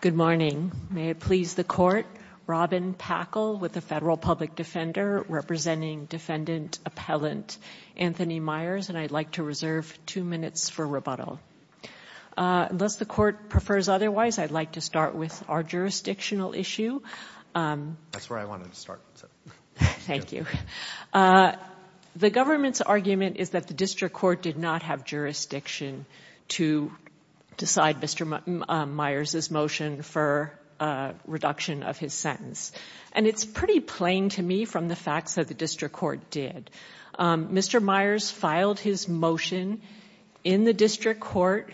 Good morning. May it please the Court, Robin Packle with the Federal Public Defender representing Defendant Appellant Anthony Meyers, and I'd like to reserve two minutes for rebuttal. Unless the Court prefers otherwise, I'd like to start with our jurisdictional issue. That's where I wanted to start. Thank you. The government's argument is that the district court did not have jurisdiction to decide Mr. Meyers' motion for reduction of his sentence. And it's pretty plain to me from the facts that the district court did. Mr. Meyers filed his motion in the district court,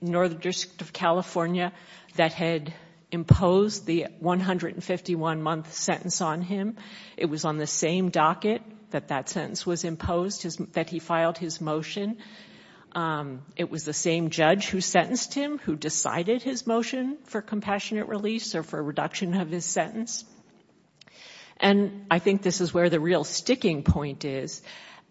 Northern District of California, that had imposed the 151-month sentence on him. It was on the same docket that that sentence was imposed, that he filed his motion. It was the same judge who sentenced him, who decided his motion for compassionate release or for reduction of his sentence. And I think this is where the real sticking point is.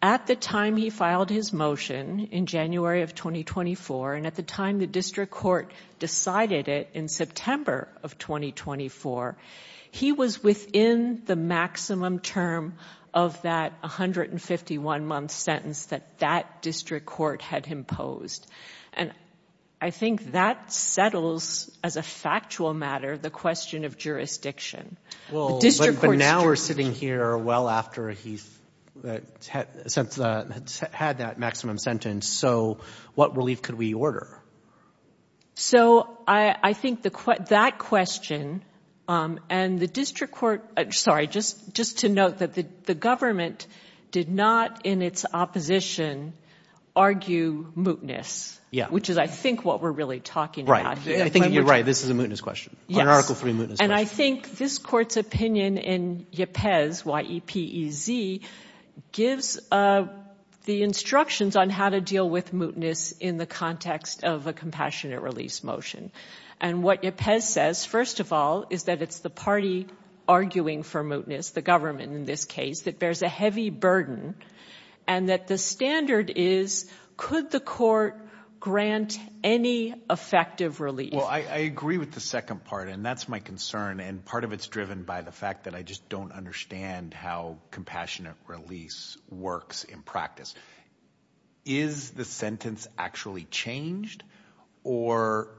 At the time he filed his motion, in January of 2024, and at the time the district court decided it in September of 2024, he was within the maximum term of that 151-month sentence that that district court had imposed. And I think that settles, as a factual matter, the question of jurisdiction. Well, but now we're sitting here well after he's had that maximum sentence, so what relief could we order? So, I think that question, and the district court, sorry, just to note that the government did not, in its opposition, argue mootness, which is, I think, what we're really talking about here. Right. I think you're right. This is a mootness question, an Article III mootness question. And I think this court's opinion in YPEZ, Y-E-P-E-Z, gives the instructions on how to do a compassionate release motion. And what YPEZ says, first of all, is that it's the party arguing for mootness, the government in this case, that bears a heavy burden, and that the standard is, could the court grant any effective release? Well, I agree with the second part, and that's my concern. And part of it's driven by the fact that I just don't understand how compassionate release works in practice. Is the sentence actually changed, or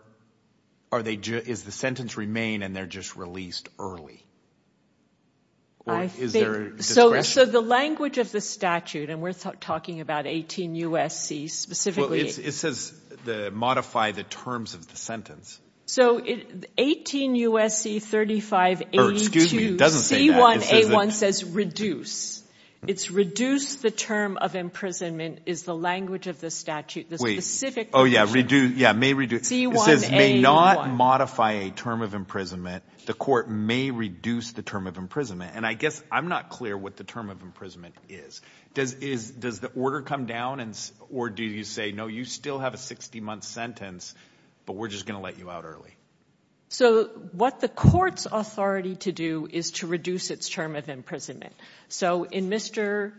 is the sentence remain and they're just released early? I think, so the language of the statute, and we're talking about 18 U.S.C. specifically. It says modify the terms of the sentence. So 18 U.S.C. 3582, C1A1 says reduce. It's reduce the term of imprisonment, is the language of the statute. Wait, oh yeah, may reduce. It says may not modify a term of imprisonment. The court may reduce the term of imprisonment. And I guess I'm not clear what the term of imprisonment is. Does the order come down, or do you say, no, you still have a 60-month sentence, but we're just going to let you out early? So what the court's authority to do is to reduce its term of imprisonment. So in Mr.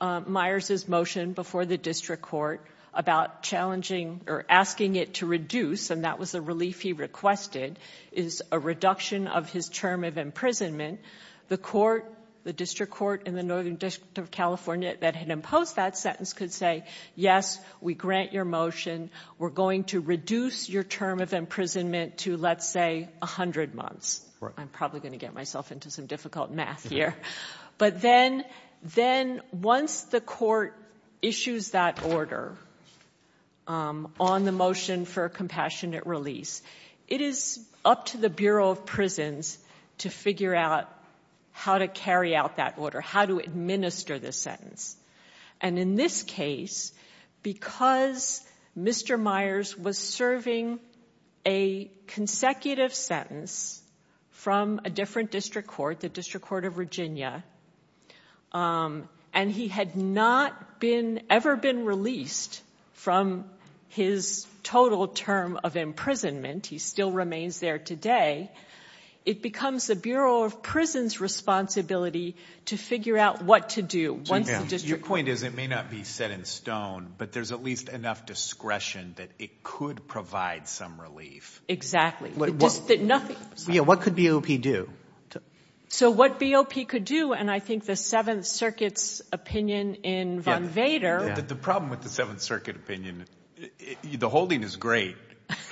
Myers' motion before the district court about challenging or asking it to reduce, and that was a relief he requested, is a reduction of his term of imprisonment. The court, the district court in the Northern District of California that had imposed that sentence could say, yes, we grant your motion. We're going to reduce your term of imprisonment to let's say 100 months. I'm probably going to get myself into some difficult math here. But then once the court issues that order on the motion for a compassionate release, it is up to the Bureau of Prisons to figure out how to carry out that order, how to administer the sentence. And in this case, because Mr. Myers was serving a consecutive sentence from a different district court, the District Court of Virginia, and he had not ever been released from his total term of imprisonment, he still remains there today, it becomes the Bureau of Prisons' responsibility to figure out what to do once the district court... Your point is it may not be set in stone, but there's at least enough discretion that it could provide some relief. Exactly. What could BOP do? So what BOP could do, and I think the Seventh Circuit's opinion in Von Vader... The problem with the Seventh Circuit opinion, the holding is great.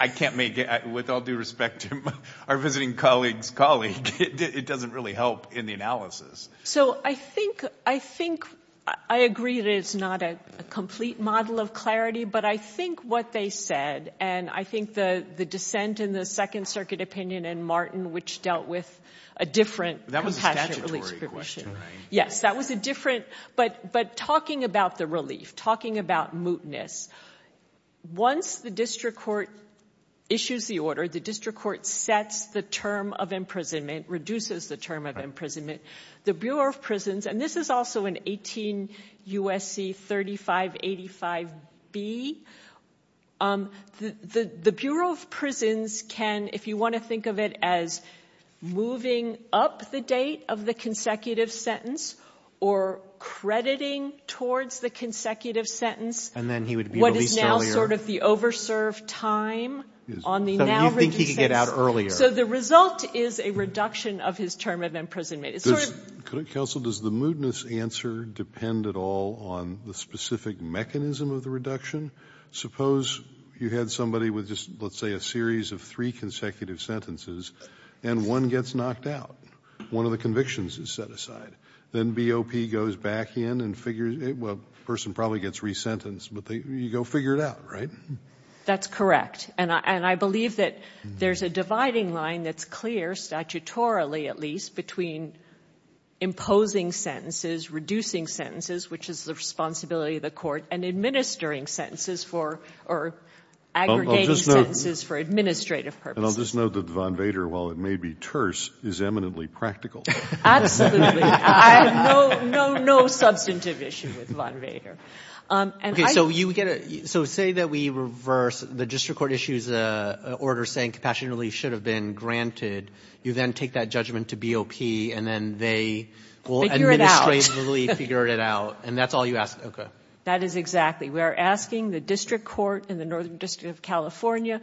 I can't make it, with all due respect to our visiting colleague's colleague, it doesn't really help in the analysis. So I think, I agree that it's not a complete model of clarity, but I think what they said and I think the dissent in the Second Circuit opinion and Martin, which dealt with a different compassion relief situation. That was a statutory question, right? Yes, that was a different... But talking about the relief, talking about mootness, once the district court issues the order, the district court sets the term of imprisonment, reduces the term of imprisonment, the Bureau of Prisons, and this is also in 18 U.S.C. 3585B, the Bureau of Prisons can, if you want to think of it as moving up the date of the consecutive sentence or crediting towards the consecutive sentence... And then he would be released earlier. ...what is now sort of the over-served time on the now reduced sentence. So you think he could get out earlier. So the result is a reduction of his term of imprisonment. Counsel, does the mootness answer depend at all on the specific mechanism of the reduction? Suppose you had somebody with just, let's say, a series of three consecutive sentences and one gets knocked out. One of the convictions is set aside. Then BOP goes back in and figures... Well, the person probably gets resentenced, but you go figure it out, right? That's correct. And I believe that there's a dividing line that's clear, statutorily at least, between imposing sentences, reducing sentences, which is the responsibility of the court, and administering sentences for, or aggregating sentences for administrative purposes. And I'll just note that Von Vader, while it may be terse, is eminently practical. Absolutely. I have no substantive issue with Von Vader. Okay, so you get a... So say that we reverse the district court issue's order saying compassionate release should have been granted. You then take that judgment to BOP, and then they... Figure it out. ...will administratively figure it out. And that's all you ask? Okay. That is exactly. We are asking the district court in the Northern District of California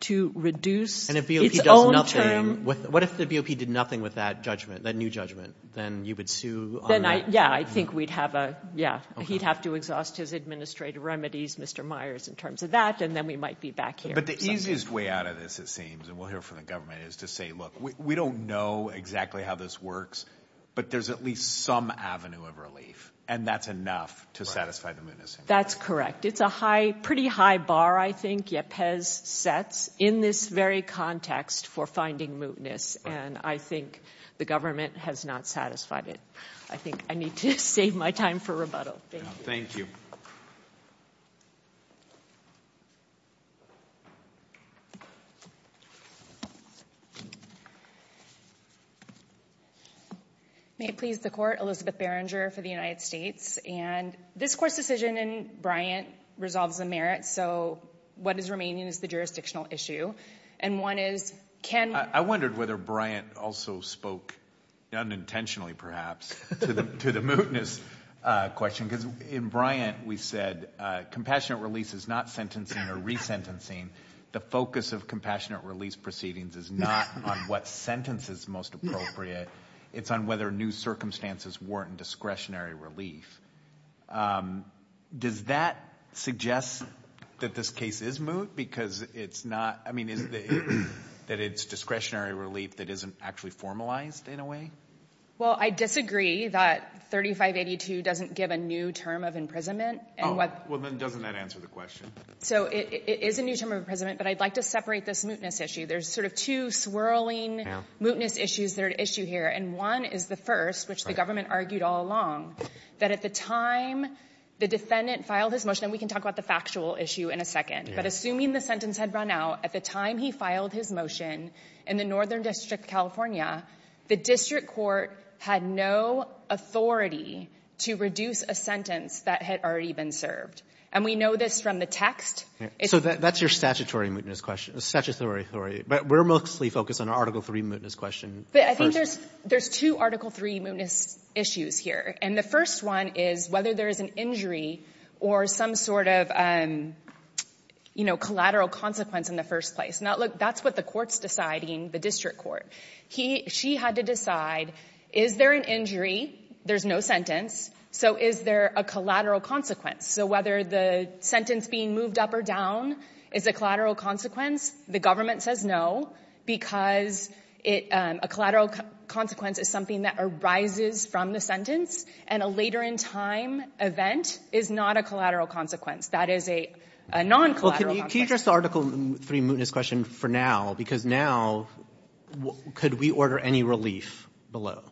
to reduce... And if BOP does nothing... ...its own term... What if the BOP did nothing with that judgment, that new judgment? Then you would sue on that? Then I, yeah, I think we'd have a, yeah. He'd have to exhaust his administrative remedies, Mr. Myers, in terms of that, and then we might be back here. But the easiest way out of this, it seems, and we'll hear from the government, is to say, look, we don't know exactly how this works, but there's at least some avenue of relief, and that's enough to satisfy the mootness. That's correct. It's a high, pretty high bar, I think, YEPES sets in this very context for finding mootness, and I think the government has not satisfied it. I think I need to save my time for rebuttal. Thank you. Thank you. May it please the Court, Elizabeth Berenger for the United States. And this Court's decision in Bryant resolves the merits, so what is remaining is the jurisdictional issue. And one is, can... I wondered whether Bryant also spoke, unintentionally, perhaps, to the mootness question, because in Bryant, we said, compassionate release is not sentencing or resentencing. The focus of compassionate release proceedings is not on what sentence is most appropriate, it's on whether new circumstances warrant discretionary relief. Does that suggest that this case is moot, because it's not... I mean, is it that it's discretionary relief that isn't actually formalized, in a way? Well, I disagree that 3582 doesn't give a new term of imprisonment. Well, then doesn't that answer the question? So, it is a new term of imprisonment, but I'd like to separate this mootness issue. There's sort of two swirling mootness issues that are at issue here, and one is the first, which the government argued all along, that at the time the defendant filed his motion, and we can talk about the factual issue in a second, but assuming the sentence had run out, at the time he filed his motion in the Northern District, California, the district court had no authority to reduce a sentence that had already been served. And we know this from the text. So, that's your statutory mootness question. Statutory, sorry. But we're mostly focused on Article III mootness question. But I think there's two Article III mootness issues here. And the first one is whether there is an injury or some sort of, you know, collateral consequence in the first place. Now, look, that's what the court's deciding, the district court. She had to decide, is there an injury, there's no sentence, so is there a collateral consequence? So, whether the sentence being moved up or down is a collateral consequence, the government says no, because a collateral consequence is something that arises from the sentence, and a later in time event is not a collateral consequence. That is a non-collateral consequence. Well, can you address the Article III mootness question for now? Because now, could we order any relief below?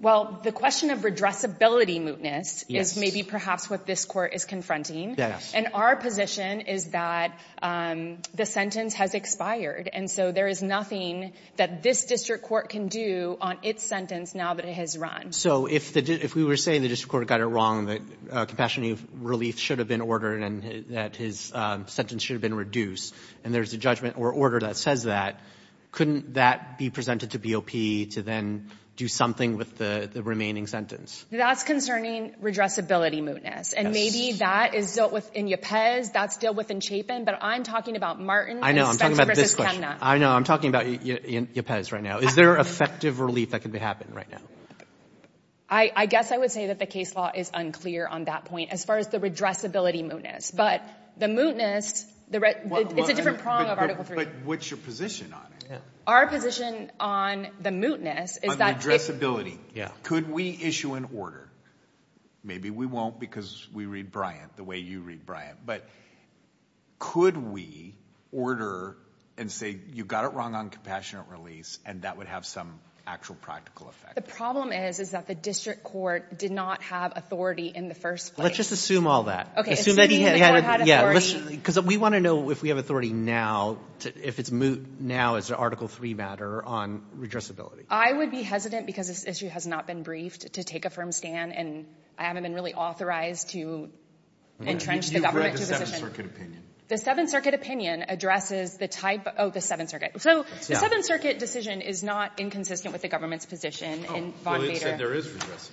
Well, the question of redressability mootness is maybe perhaps what this court is confronting. And our position is that the sentence has expired. And so, there is nothing that this district court can do on its sentence now that it has run. So, if we were saying the district court got it wrong, that compassionate relief should have been ordered and that his sentence should have been reduced, and there's a judgment or order that says that, couldn't that be presented to BOP to then do something with the remaining sentence? That's concerning redressability mootness. And maybe that is dealt with in YPES, that's dealt with in Chapin, but I'm talking about Martin and Spencer v. Chemnutt. I know, I'm talking about YPES right now. Is there effective relief that could happen right now? I guess I would say that the case law is unclear on that point, as far as the redressability mootness. But the mootness, it's a different prong of Article 3. But what's your position on it? Our position on the mootness is that... On redressability. Yeah. Could we issue an order? Maybe we won't because we read Bryant the way you read Bryant. But could we order and say, you got it wrong on compassionate release and that would have some actual practical effect? The problem is, is that the district court did not have authority in the first place. Let's just assume all that. Okay. Because we want to know if we have authority now, if it's moot now as an Article 3 matter on redressability. I would be hesitant, because this issue has not been briefed, to take a firm stand and I haven't been really authorized to entrench the government's position. You've read the Seventh Circuit opinion. The Seventh Circuit opinion addresses the type of the Seventh Circuit. So the Seventh Circuit decision is not inconsistent with the government's position. Oh, so it said there is redressability.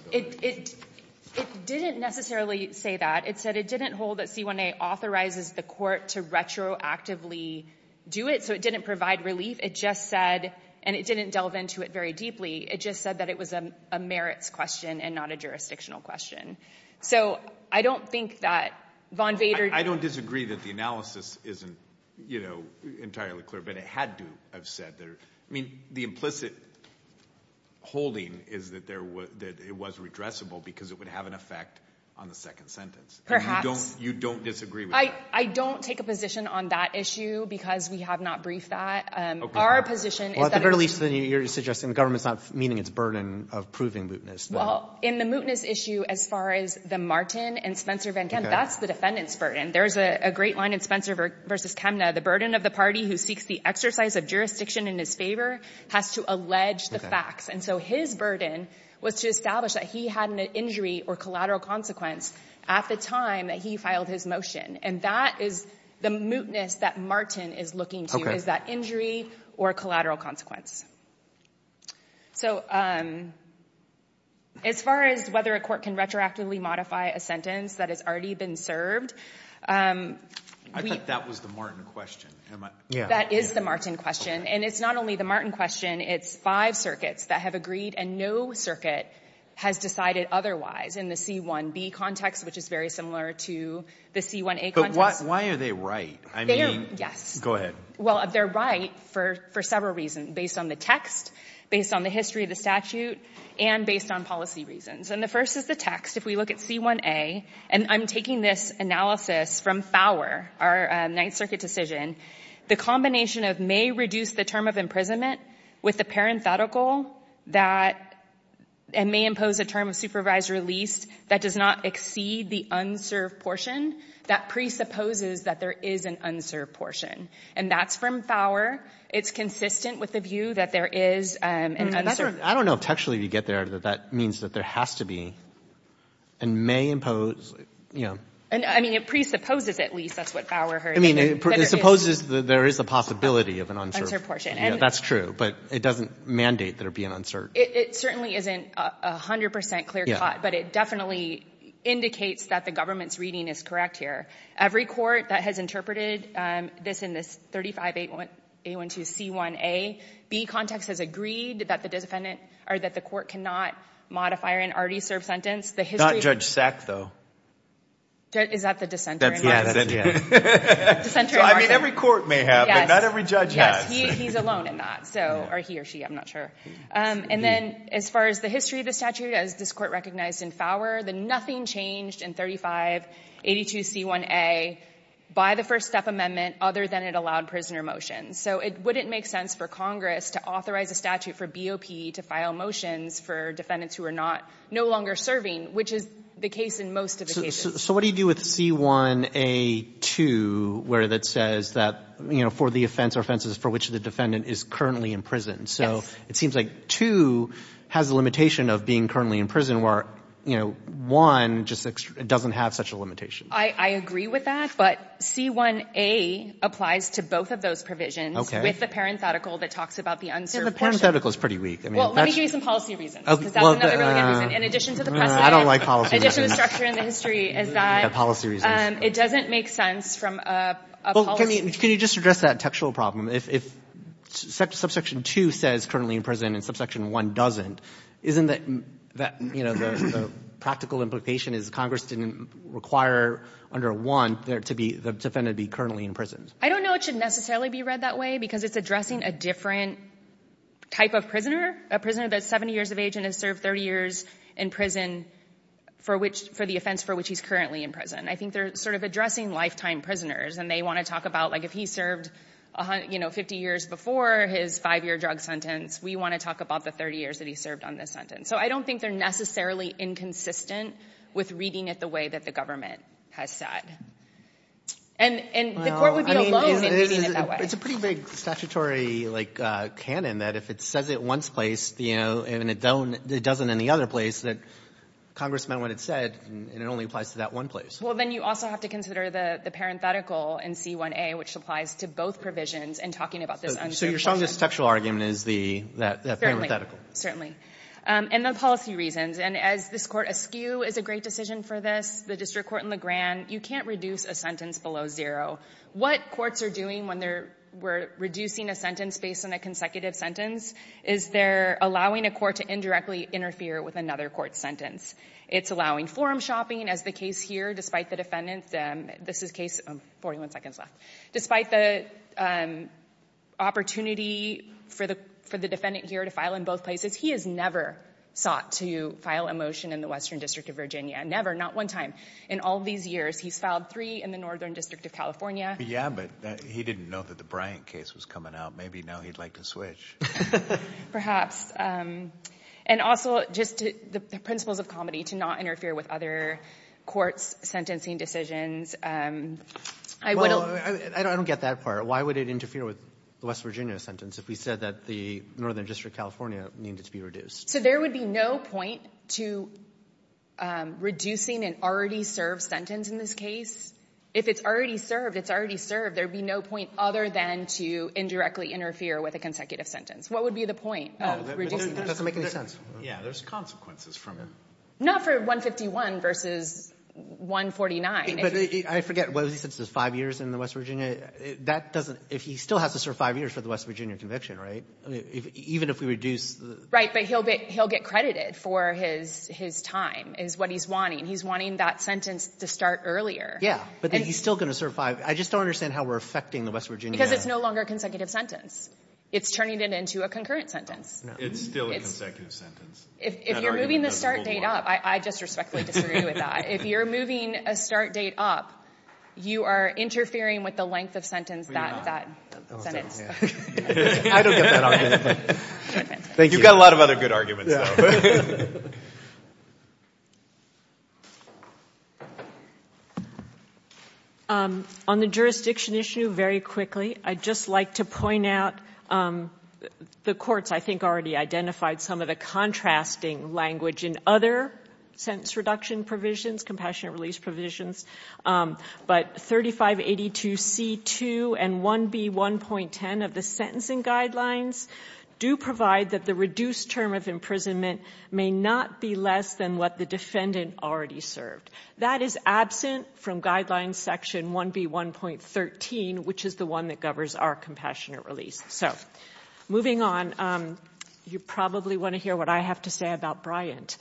It didn't necessarily say that. It said it didn't hold that C1A authorizes the court to retroactively do it. So it didn't provide relief. It just said, and it didn't delve into it very deeply, it just said that it was a merits question and not a jurisdictional question. So I don't think that Von Vader... I don't disagree that the analysis isn't, you know, entirely clear, but it had to have said there. I mean, the implicit holding is that there was, that it was redressable because it would have an effect on the second sentence. You don't disagree with that? I don't take a position on that issue because we have not briefed that. Our position is that... Well, at the very least, then you're suggesting the government's not meeting its burden of proving mootness. Well, in the mootness issue, as far as the Martin and Spencer Van Kemp, that's the defendant's burden. There's a great line in Spencer versus Kemna, the burden of the party who seeks the exercise of jurisdiction in his favor has to allege the facts. Okay. And so his burden was to establish that he had an injury or collateral consequence at the time that he filed his motion. And that is the mootness that Martin is looking to. Is that injury or collateral consequence. So, um... As far as whether a court can retroactively modify a sentence that has already been served, um... I thought that was the Martin question. Am I... Yeah. That is the Martin question. And it's not only the Martin question, it's five circuits that have agreed and no circuit has decided otherwise in the C-1B context, which is very similar to the C-1A context. But why are they right? I mean... They don't... Yes. Go ahead. Well, they're right for several reasons. Based on the text, based on the history of the statute, and based on policy reasons. And the first is the text. If we look at C-1A, and I'm taking this analysis from Fowler, our Ninth Circuit decision, the combination of may reduce the term of imprisonment with the parenthetical that... and may impose a term of supervised release that does not exceed the unserved portion, that presupposes that there is an unserved portion. And that's from Fowler. It's consistent with the view that there is an unserved... I don't know if textually we get there that that means that there has to be and may impose, you know... I mean, it presupposes, at least. That's what Fowler heard. I mean, it presupposes that there is a possibility of an unserved... Yeah, that's true. But it doesn't mandate that there be an unserved... It certainly isn't 100% clear-cut, but it definitely indicates that the government's reading is correct here. Every court that has interpreted this in this 35A12C1A, B context has agreed that the defendant... or that the court cannot modify an already served sentence. The history... Not Judge Sack, though. Is that the dissenter? Yeah, that's it. I mean, every court may have, but not every judge has. Yes, he's alone in that, or he or she, I'm not sure. And then, as far as the history of the statute, as this court recognized in Fowler, that nothing changed in 35A82C1A by the First Step Amendment other than it allowed prisoner motions. So it wouldn't make sense for Congress to authorize a statute for BOP to file motions for defendants who are no longer serving, which is the case in most of the cases. So what do you do with C1A2 where that says that, you know, for the offense or offenses for which the defendant is currently in prison? Yes. So it seems like 2 has a limitation of being currently in prison where, you know, 1 just doesn't have such a limitation. I agree with that, but C1A applies to both of those provisions with the parenthetical that talks about the unserved portion. Yeah, the parenthetical is pretty weak. Well, let me give you some policy reasons, because that's another really good reason in addition to the precedent... I don't like policy reasons. ...in addition to the structure and the history is that... I don't like the policy reasons. ...it doesn't make sense from a policy... Well, can you just address that textual problem? If subsection 2 says currently in prison and subsection 1 doesn't, isn't that, you know, the practical implication is Congress didn't require under 1 the defendant be currently in prison? I don't know it should necessarily be read that way because it's addressing a different type of prisoner, a prisoner that's 70 years of age and has served 30 years in prison for the offense for which he's currently in prison. I think they're sort of addressing lifetime prisoners and they want to talk about, like, if he served, you know, 50 years before his 5-year drug sentence, we want to talk about the 30 years that he served on this sentence. So I don't think they're necessarily inconsistent with reading it the way that the government has said. And the court would be alone in reading it that way. It's a pretty big statutory, like, canon that if it says it one place, you know, and it doesn't in the other place, that Congress meant what it said and it only applies to that one place. Well, then you also have to consider the parenthetical in C1A which applies to both provisions in talking about this unsuitable sentence. So you're saying this textual argument is that parenthetical? And then policy reasons. And as this court, a skew is a great decision for this, the district court and the grand, you can't reduce a sentence below zero. What courts are doing when they're reducing a sentence based on a consecutive sentence is they're allowing a court to indirectly interfere with another court's sentence. It's allowing forum shopping as the case here, despite the defendant, this is case, 41 seconds left, despite the opportunity for the defendant here to file in both places, he has never sought to file a motion in the Western District of Virginia. Never, not one time. In all these years, he's filed three in the Northern District of California. Yeah, but he didn't know that the Bryant case was coming out. Maybe now he'd like to switch. Perhaps. And also just the principles of comedy to not interfere with other courts' sentencing decisions. I don't get that part. Why would it interfere with the West Virginia sentence if we said that the Northern District of California needed to be reduced? So there would be no point to reducing an already served sentence in this case. If it's already served, it's already served, there'd be no point other than to indirectly interfere with a consecutive sentence. What would be the point of reducing the sentence? It doesn't make any sense. Yeah, there's consequences from it. Not for 151 versus 149. But I forget, he said it's five years in the West Virginia. That doesn't, if he still has to serve five years for the West Virginia conviction, right? Even if we reduce... Right, but he'll get credited for his time, is what he's wanting. He's wanting that sentence to start earlier. Yeah, but he's still going to serve five. I just don't understand how we're affecting the West Virginia. Because it's no longer a consecutive sentence. It's turning it into a concurrent sentence. It's still a consecutive sentence. If you're moving the start date up, I just respectfully disagree with that. If you're moving a start date up, you are interfering with the length of sentence that sentence... I don't get that argument. Thank you. You've got a lot of other good arguments, though. On the jurisdiction issue, very quickly, I'd just like to point out, the courts, I think, already identified some of the contrasting language in other sentence reduction provisions, compassionate release provisions. But 3582C2 and 1B1.10 of the sentencing guidelines do provide that the reduced term of imprisonment may not be less than what the defendant already served. That is absent from Guidelines Section 1B1.13, which is the one that governs our compassionate release. So, moving on, you probably want to hear what I have to say about Bryant.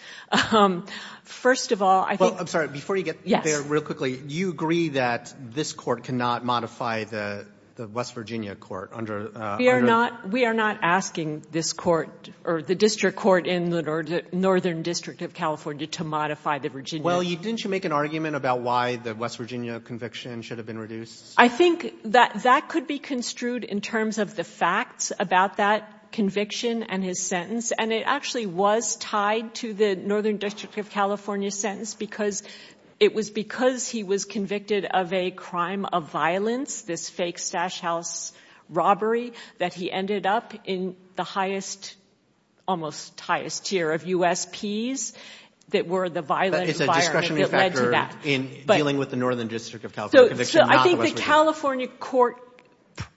First of all, I think... Well, I'm sorry, before you get there real quickly, do you agree that this court cannot modify the West Virginia court under... We are not asking this court or the district court in the Northern District of California to modify the Virginia... Well, didn't you make an argument about why the West Virginia conviction should have been reduced? I think that could be construed in terms of the facts about that conviction and his sentence. And it actually was tied to the Northern District of California sentence because it was because he was convicted of a crime of violence, this fake stash house robbery that he ended up in the highest, almost highest tier of USPs that were the violent environment It's a discretionary factor in dealing with the Northern District of California conviction not the West Virginia. So, I think the California court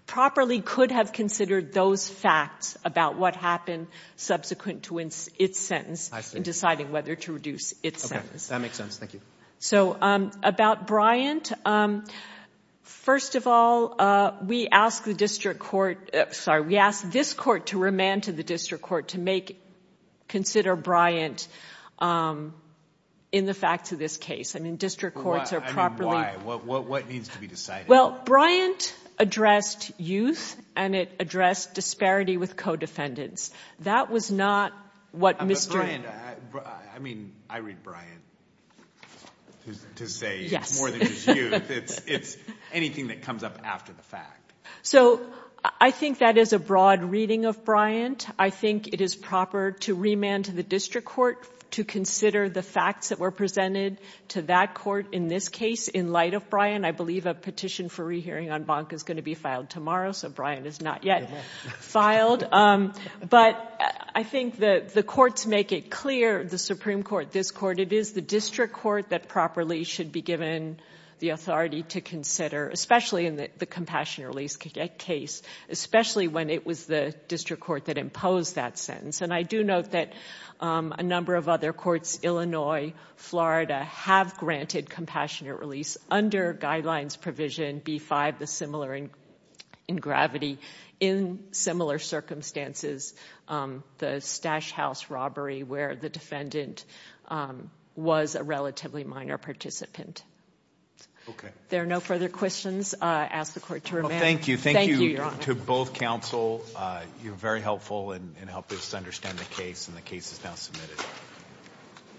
properly could have considered those facts about what happened subsequent to its sentence in deciding whether to reduce its sentence. Okay, that makes sense. Thank you. So, about Bryant, first of all, we asked the district court... Sorry, we asked this court to remand to the district court to make... consider Bryant in the facts of this case. I mean, district courts are properly... I mean, why? What needs to be decided? Well, Bryant addressed youth and it addressed disparity with co-defendants. That was not what Mr. But Bryant, I mean, I read Bryant to say more than just youth. It's anything that comes up after the fact. So, I think that is a broad reading of Bryant. I think it is proper to remand to the district court to consider the facts that were presented to that court in this case in light of Bryant. I believe a petition for rehearing on Bonk is going to be filed tomorrow so Bryant is not yet filed. But I think that the courts make it clear, the Supreme Court, it is the district court that properly should be given the authority to consider, especially in the compassionate release case, especially when it was the district court that imposed that sentence. And I do note that a number of other courts, Illinois, Florida, have granted compassionate release under guidelines provision B-5, the similar in gravity, in similar circumstances, the Stash House robbery where the defendant was a relatively minor participant. There are no further questions. I ask the court to remand. Thank you. Thank you to both counsel. You were very helpful in helping us understand the case and the case is now submitted.